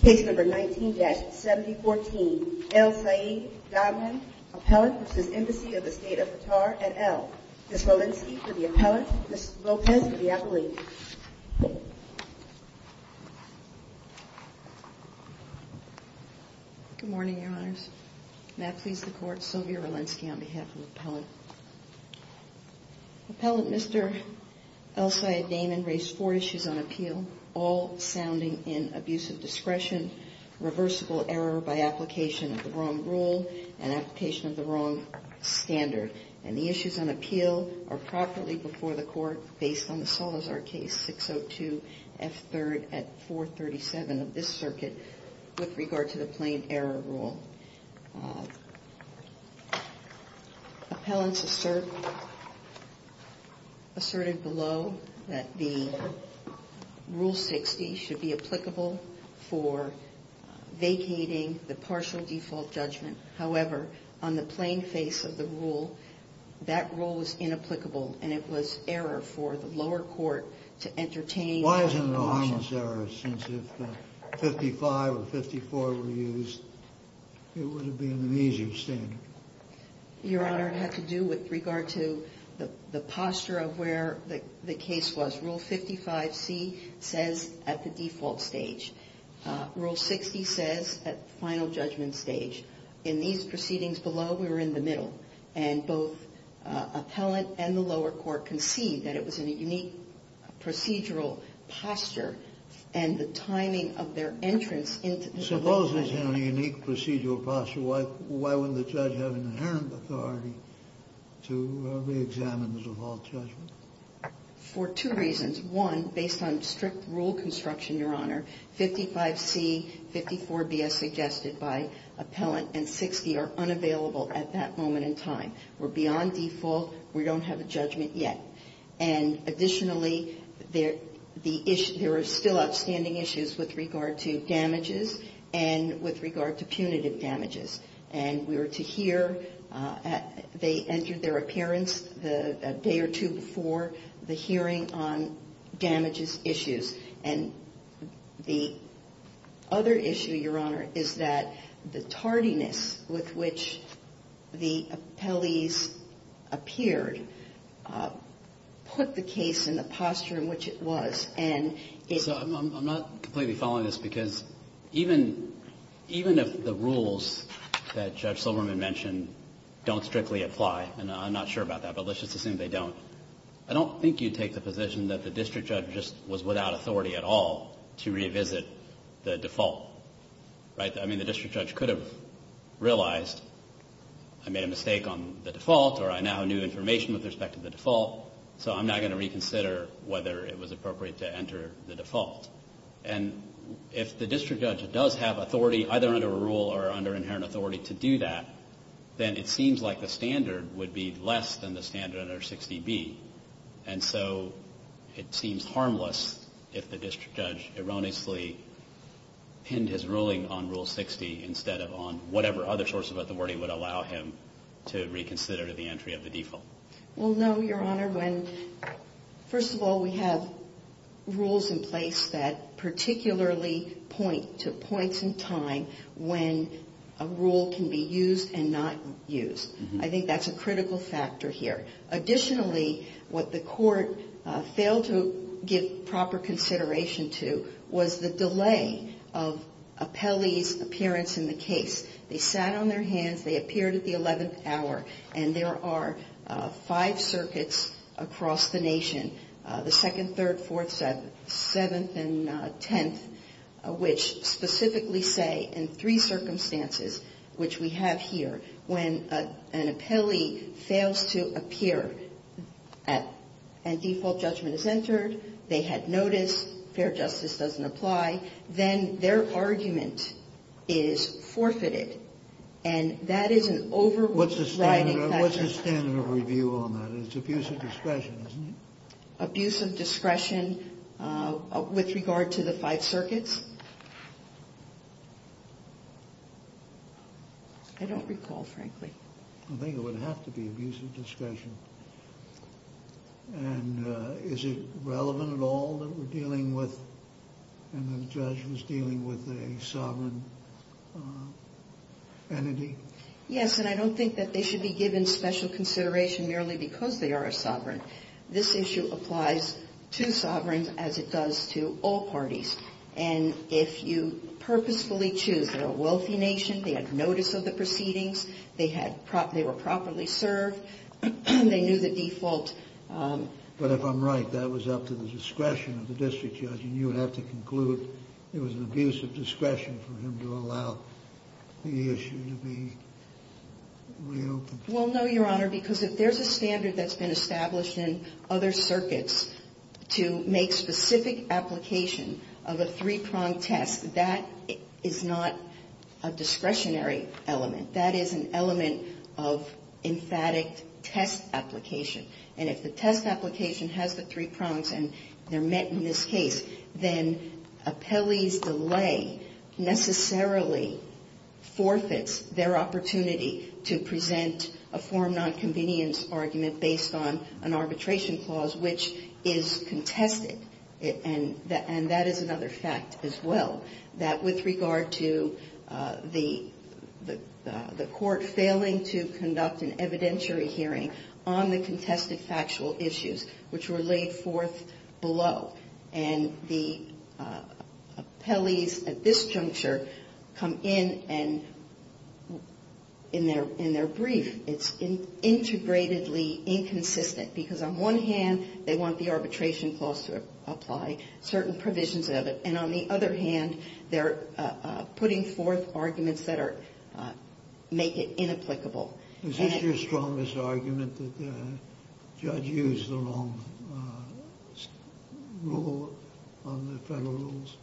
Case number 19-7014, El-Sayed Dahman, Appellant v. Embassy of the State of Qatar et al. Ms. Walensky for the Appellant, Ms. Lopez for the Appellant. Good morning, Your Honors. May it please the Court, Sylvia Walensky on behalf of the Appellant. Appellant Mr. El-Sayed Dahman raised four issues on appeal, all sounding in abusive discretion, reversible error by application of the wrong rule and application of the wrong standard. And the issues on appeal are properly before the Court based on the Salazar case 602 F. 3rd at 437 of this circuit with regard to the plain error rule. Appellants asserted below that the Rule 60 should be applicable for vacating the partial default judgment. However, on the plain face of the rule, that rule was inapplicable and it was error for the lower court to entertain. Why isn't it a harmless error since if 55 or 54 were used, it would have been an abusive standard? Your Honor, it had to do with regard to the posture of where the case was. Rule 55C says at the default stage. Rule 60 says at final judgment stage. In these proceedings below, we were in the middle. And both Appellant and the lower court concede that it was in a unique procedural posture and the timing of their entrance into the default judgment. Suppose it's in a unique procedural posture. Why wouldn't the judge have inherent authority to reexamine the default judgment? For two reasons. One, based on strict rule construction, Your Honor, 55C, 54BS suggested by Appellant and 60 are unavailable at that moment in time. We're beyond default. We don't have a judgment yet. And additionally, there are still outstanding issues with regard to damages and with regard to punitive damages. And we were to hear, they entered their appearance a day or two before the hearing on damages issues. And the other issue, Your Honor, is that the tardiness with which the appellees appeared put the case in the posture in which it was. And it's not completely following this because even if the rules that Judge Silberman mentioned don't strictly apply, and I'm not sure about that, but let's just assume they don't. I don't think you'd take the position that the district judge just was without authority at all to revisit the default. Right? I mean, the district judge could have realized I made a mistake on the default or I now knew information with respect to the default, so I'm not going to reconsider whether it was appropriate to enter the default. And if the district judge does have authority either under a rule or under inherent authority to do that, then it seems like the standard would be less than the standard under 60B. And so it seems harmless if the district judge erroneously pinned his ruling on Rule 60 instead of on whatever other source of authority would allow him to reconsider the entry of the default. Well, no, Your Honor. First of all, we have rules in place that particularly point to points in time when a rule can be used and not used. I think that's a critical factor here. Additionally, what the court failed to give proper consideration to was the delay of appellees' appearance in the case. They sat on their hands, they appeared at the 11th hour, and there are five circuits across the nation, the 2nd, 3rd, 4th, 7th, 7th, and 10th, which specifically say in three circumstances, which we have here, when an appellee fails to appear and default judgment is entered, they had notice, fair justice doesn't apply, then their argument is forfeited. And that is an overriding factor. What's the standard of review on that? It's abuse of discretion, isn't it? Abuse of discretion with regard to the five circuits? I don't recall, frankly. I think it would have to be abuse of discretion. And is it relevant at all that we're dealing with, and the judge was dealing with a sovereign entity? Yes, and I don't think that they should be given special consideration merely because they are a sovereign. This issue applies to sovereigns as it does to all parties. And if you purposefully choose, they're a wealthy nation, they had notice of the proceedings, they were properly served, they knew the default. But if I'm right, that was up to the discretion of the district judge, And you would have to conclude it was an abuse of discretion for him to allow the issue to be reopened. Well, no, Your Honor, because if there's a standard that's been established in other circuits to make specific application of a three-pronged test, that is not a discretionary element. That is an element of emphatic test application. And if the test application has the three prongs and they're met in this case, then appellee's delay necessarily forfeits their opportunity to present a form non-convenience argument based on an arbitration clause which is contested. And that is another fact as well, that with regard to the court failing to conduct an evidentiary hearing on the contested factual issues, which were laid forth below, and the appellees at this juncture come in and in their brief, it's integratedly inconsistent. Because on one hand, they want the arbitration clause to apply certain provisions of it. And on the other hand, they're putting forth arguments that are – make it inapplicable. Is this your strongest argument that the judge used the wrong rule on the Federal rules?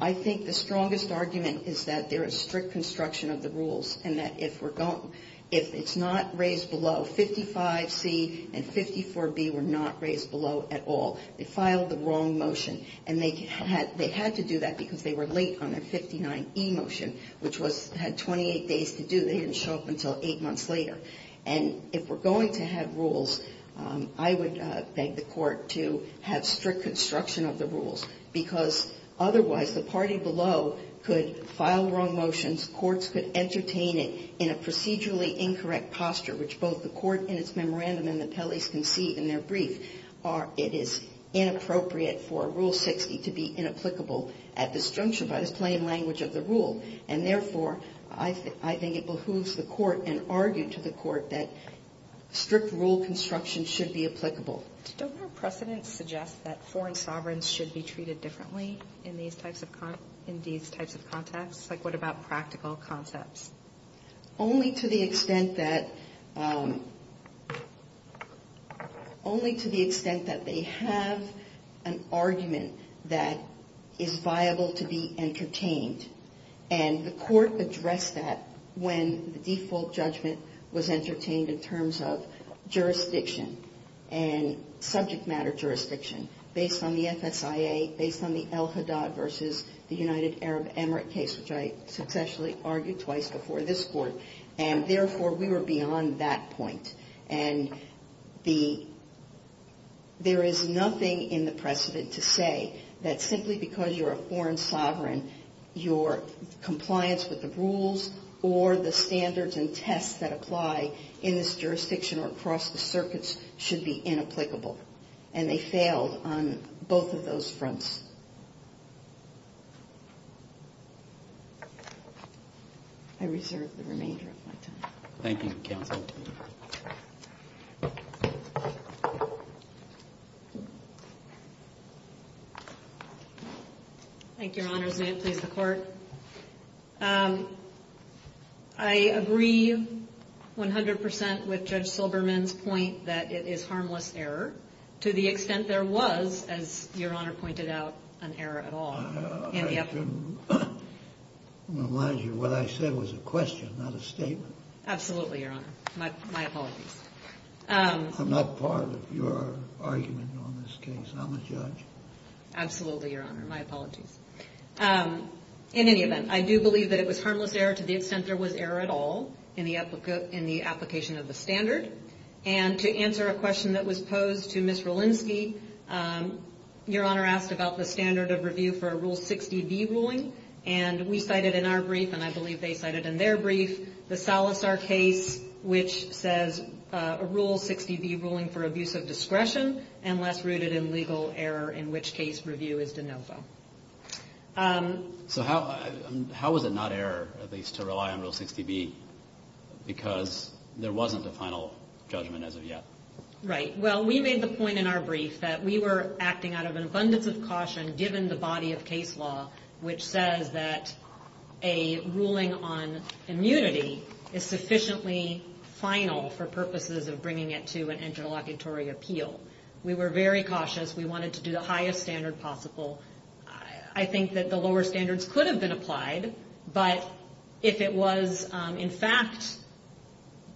I think the strongest argument is that there is strict construction of the rules and that if we're going – if it's not raised below, 55C and 54B were not raised below at all. They filed the wrong motion. And they had to do that because they were late on their 59E motion, which was – had 28 days to do. They didn't show up until eight months later. And if we're going to have rules, I would beg the court to have strict construction of the rules, because otherwise the party below could file wrong motions, courts could entertain it in a procedurally incorrect posture, which both the court in its memorandum and the appellees can see in their brief, or it is inappropriate for Rule 60 to be inapplicable at this juncture by the plain language of the rule. And therefore, I think it behooves the court and argued to the court that strict rule construction should be applicable. Don't our precedents suggest that foreign sovereigns should be treated differently in these types of – in these types of contexts? Like, what about practical concepts? Only to the extent that – only to the extent that they have an argument that is viable to be entertained. And the court addressed that when the default judgment was entertained in terms of jurisdiction and subject matter jurisdiction based on the FSIA, based on the El Haddad versus the United Arab Emirate case, which I successfully argued twice before this court. And therefore, we were beyond that point. And the – there is nothing in the precedent to say that simply because you're a foreign sovereign, your compliance with the rules or the standards and tests that apply in this jurisdiction or across the circuits should be inapplicable. And they failed on both of those fronts. I reserve the remainder of my time. Thank you, counsel. Thank you, Your Honors. May it please the Court. I agree 100 percent with Judge Silberman's point that it is harmless error to the extent there was, as Your Honor pointed out, an error at all. I have to remind you, what I said was a question, not a statement. Absolutely, Your Honor. My apologies. I'm not part of your argument on this case. I'm a judge. Absolutely, Your Honor. My apologies. In any event, I do believe that it was harmless error to the extent there was error at all in the application of the standard. And to answer a question that was posed to Ms. Relinsky, Your Honor asked about the standard of review for a Rule 60B ruling. And we cited in our brief, and I believe they cited in their brief, the Salazar case, which says a Rule 60B ruling for abuse of discretion and less rooted in legal error, in which case review is de novo. So how was it not error, at least, to rely on Rule 60B? Because there wasn't a final judgment as of yet. Right. Well, we made the point in our brief that we were acting out of an abundance of caution given the body of case law, which says that a ruling on immunity is sufficiently final for purposes of bringing it to an interlocutory appeal. We were very cautious. We wanted to do the highest standard possible. I think that the lower standards could have been applied. But if it was, in fact,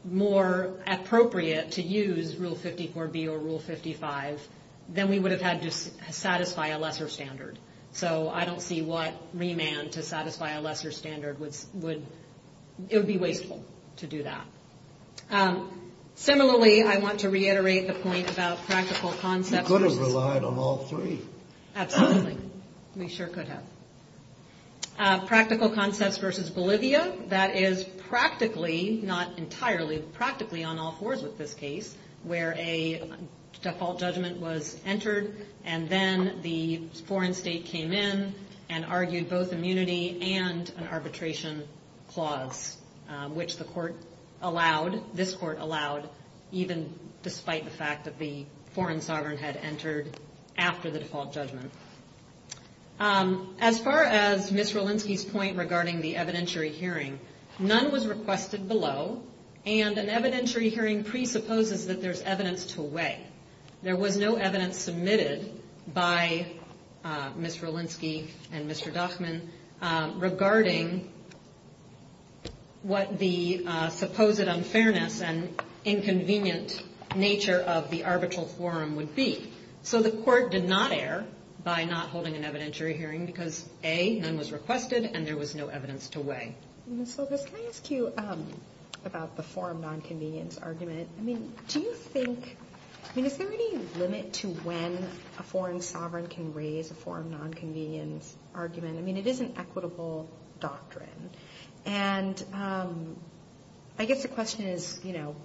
more appropriate to use Rule 54B or Rule 55, then we would have had to satisfy a lesser standard. So I don't see what remand to satisfy a lesser standard would – it would be wasteful to do that. Similarly, I want to reiterate the point about practical concepts. You could have relied on all three. Absolutely. We sure could have. Practical concepts versus Bolivia, that is practically, not entirely, but practically on all fours with this case, where a default judgment was entered and then the foreign state came in and argued both immunity and an arbitration clause, which the court allowed, this court allowed, even despite the fact that the foreign sovereign had entered after the default judgment. As far as Ms. Relinsky's point regarding the evidentiary hearing, none was requested below, and an evidentiary hearing presupposes that there's evidence to weigh. There was no evidence submitted by Ms. Relinsky and Mr. Dachman regarding what the supposed unfairness and inconvenient nature of the arbitral forum would be. So the court did not err by not holding an evidentiary hearing because, A, none was requested and there was no evidence to weigh. Ms. Silvas, can I ask you about the forum nonconvenience argument? I mean, do you think – I mean, is there any limit to when a foreign sovereign can raise a forum nonconvenience argument? I mean, it is an equitable doctrine. And I guess the question is, you know,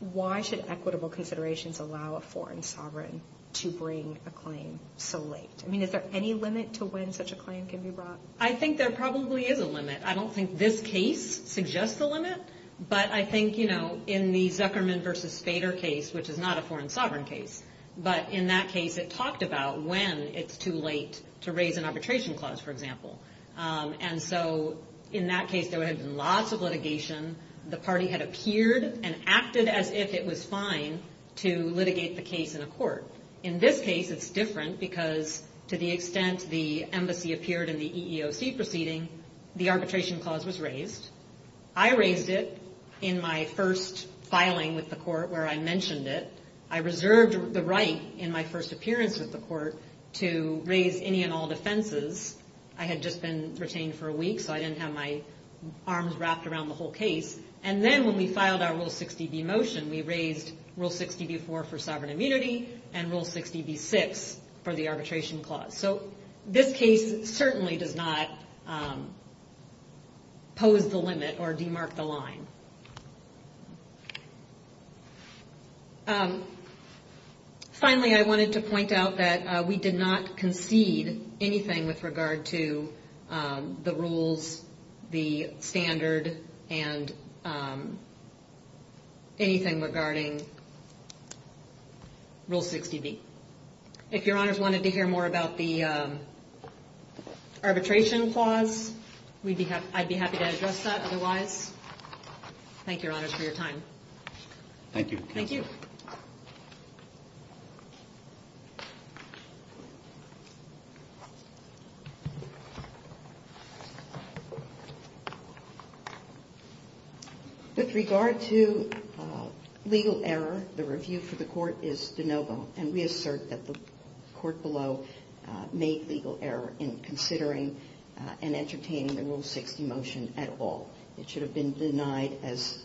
why should equitable considerations allow a foreign sovereign to bring a claim so late? I mean, is there any limit to when such a claim can be brought? I think there probably is a limit. I don't think this case suggests a limit, but I think, you know, in the Zuckerman v. Spader case, which is not a foreign sovereign case, but in that case it talked about when it's too late to raise an arbitration clause, for example. And so in that case there had been lots of litigation. The party had appeared and acted as if it was fine to litigate the case in a court. In this case it's different because to the extent the embassy appeared in the EEOC proceeding, the arbitration clause was raised. I raised it in my first filing with the court where I mentioned it. I reserved the right in my first appearance with the court to raise any and all defenses. I had just been retained for a week, so I didn't have my arms wrapped around the whole case. And then when we filed our Rule 60b motion, we raised Rule 60b-4 for sovereign immunity and Rule 60b-6 for the arbitration clause. So this case certainly does not pose the limit or demark the line. Finally, I wanted to point out that we did not concede anything with regard to the rules, the standard, and anything regarding Rule 60b. If your honors wanted to hear more about the arbitration clause, I'd be happy to address that otherwise. Thank you, your honors, for your time. Thank you, counsel. Thank you. With regard to legal error, the review for the court is de novo, and we assert that the court below made legal error in considering and entertaining the Rule 60 motion at all. It should have been denied as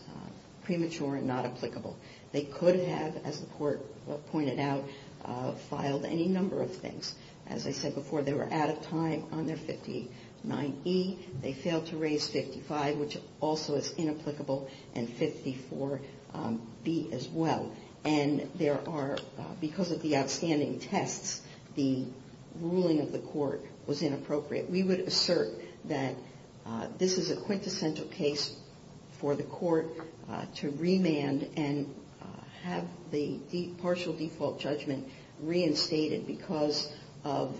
premature and not applicable. They could have, as the court pointed out, filed any number of things. As I said before, they were out of time on their 59e. They failed to raise 55, which also is inapplicable, and 54b as well. And because of the outstanding tests, the ruling of the court was inappropriate. We would assert that this is a quintessential case for the court to remand and have the partial default judgment reinstated because of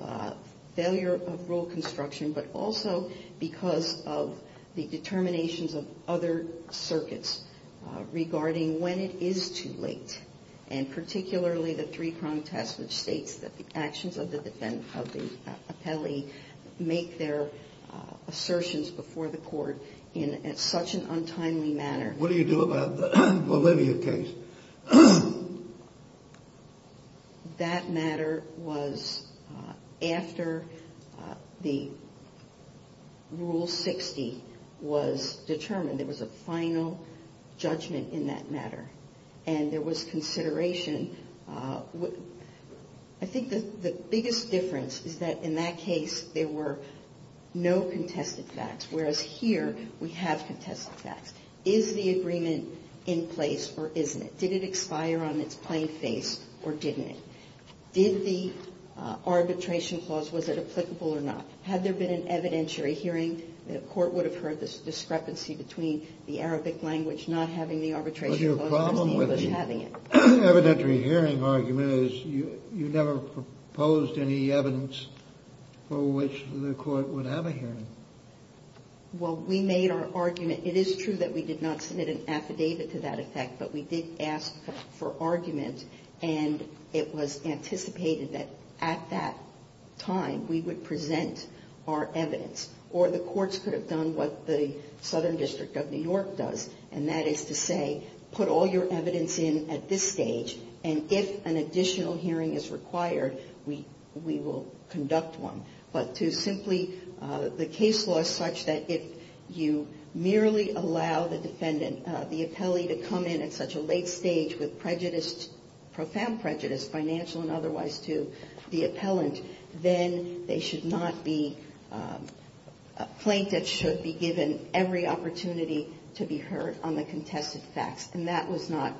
failure of rule construction, but also because of the determinations of other circuits regarding when it is too late, and particularly the three-prong test, which states that the actions of the appellee make their assertions before the court in such an untimely manner. What do you do about the Bolivia case? That matter was after the Rule 60 was determined. There was a final judgment in that matter, and there was consideration. I think the biggest difference is that in that case there were no contested facts, whereas here we have contested facts. Is the agreement in place or isn't it? Did it expire on its plain face or didn't it? Did the arbitration clause, was it applicable or not? Had there been an evidentiary hearing, the court would have heard this discrepancy between the Arabic language not having the arbitration clause and the English having it. But your problem with the evidentiary hearing argument is you never proposed any evidence for which the court would have a hearing. Well, we made our argument. It is true that we did not submit an affidavit to that effect, but we did ask for argument, and it was anticipated that at that time we would present our evidence, or the courts could have done what the Southern District of New York does, and that is to say put all your evidence in at this stage, and if an additional hearing is required we will conduct one. But to simply the case law is such that if you merely allow the defendant, the appellee to come in at such a late stage with prejudice, profound prejudice, financial and otherwise, to the appellant, then they should not be – a plaintiff should be given every opportunity to be heard on the contested facts, and that was not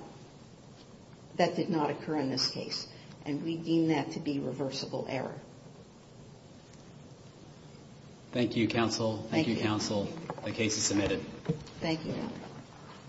– that did not occur in this case, and we deem that to be reversible error. Thank you, counsel. Thank you, counsel. The case is submitted. Thank you.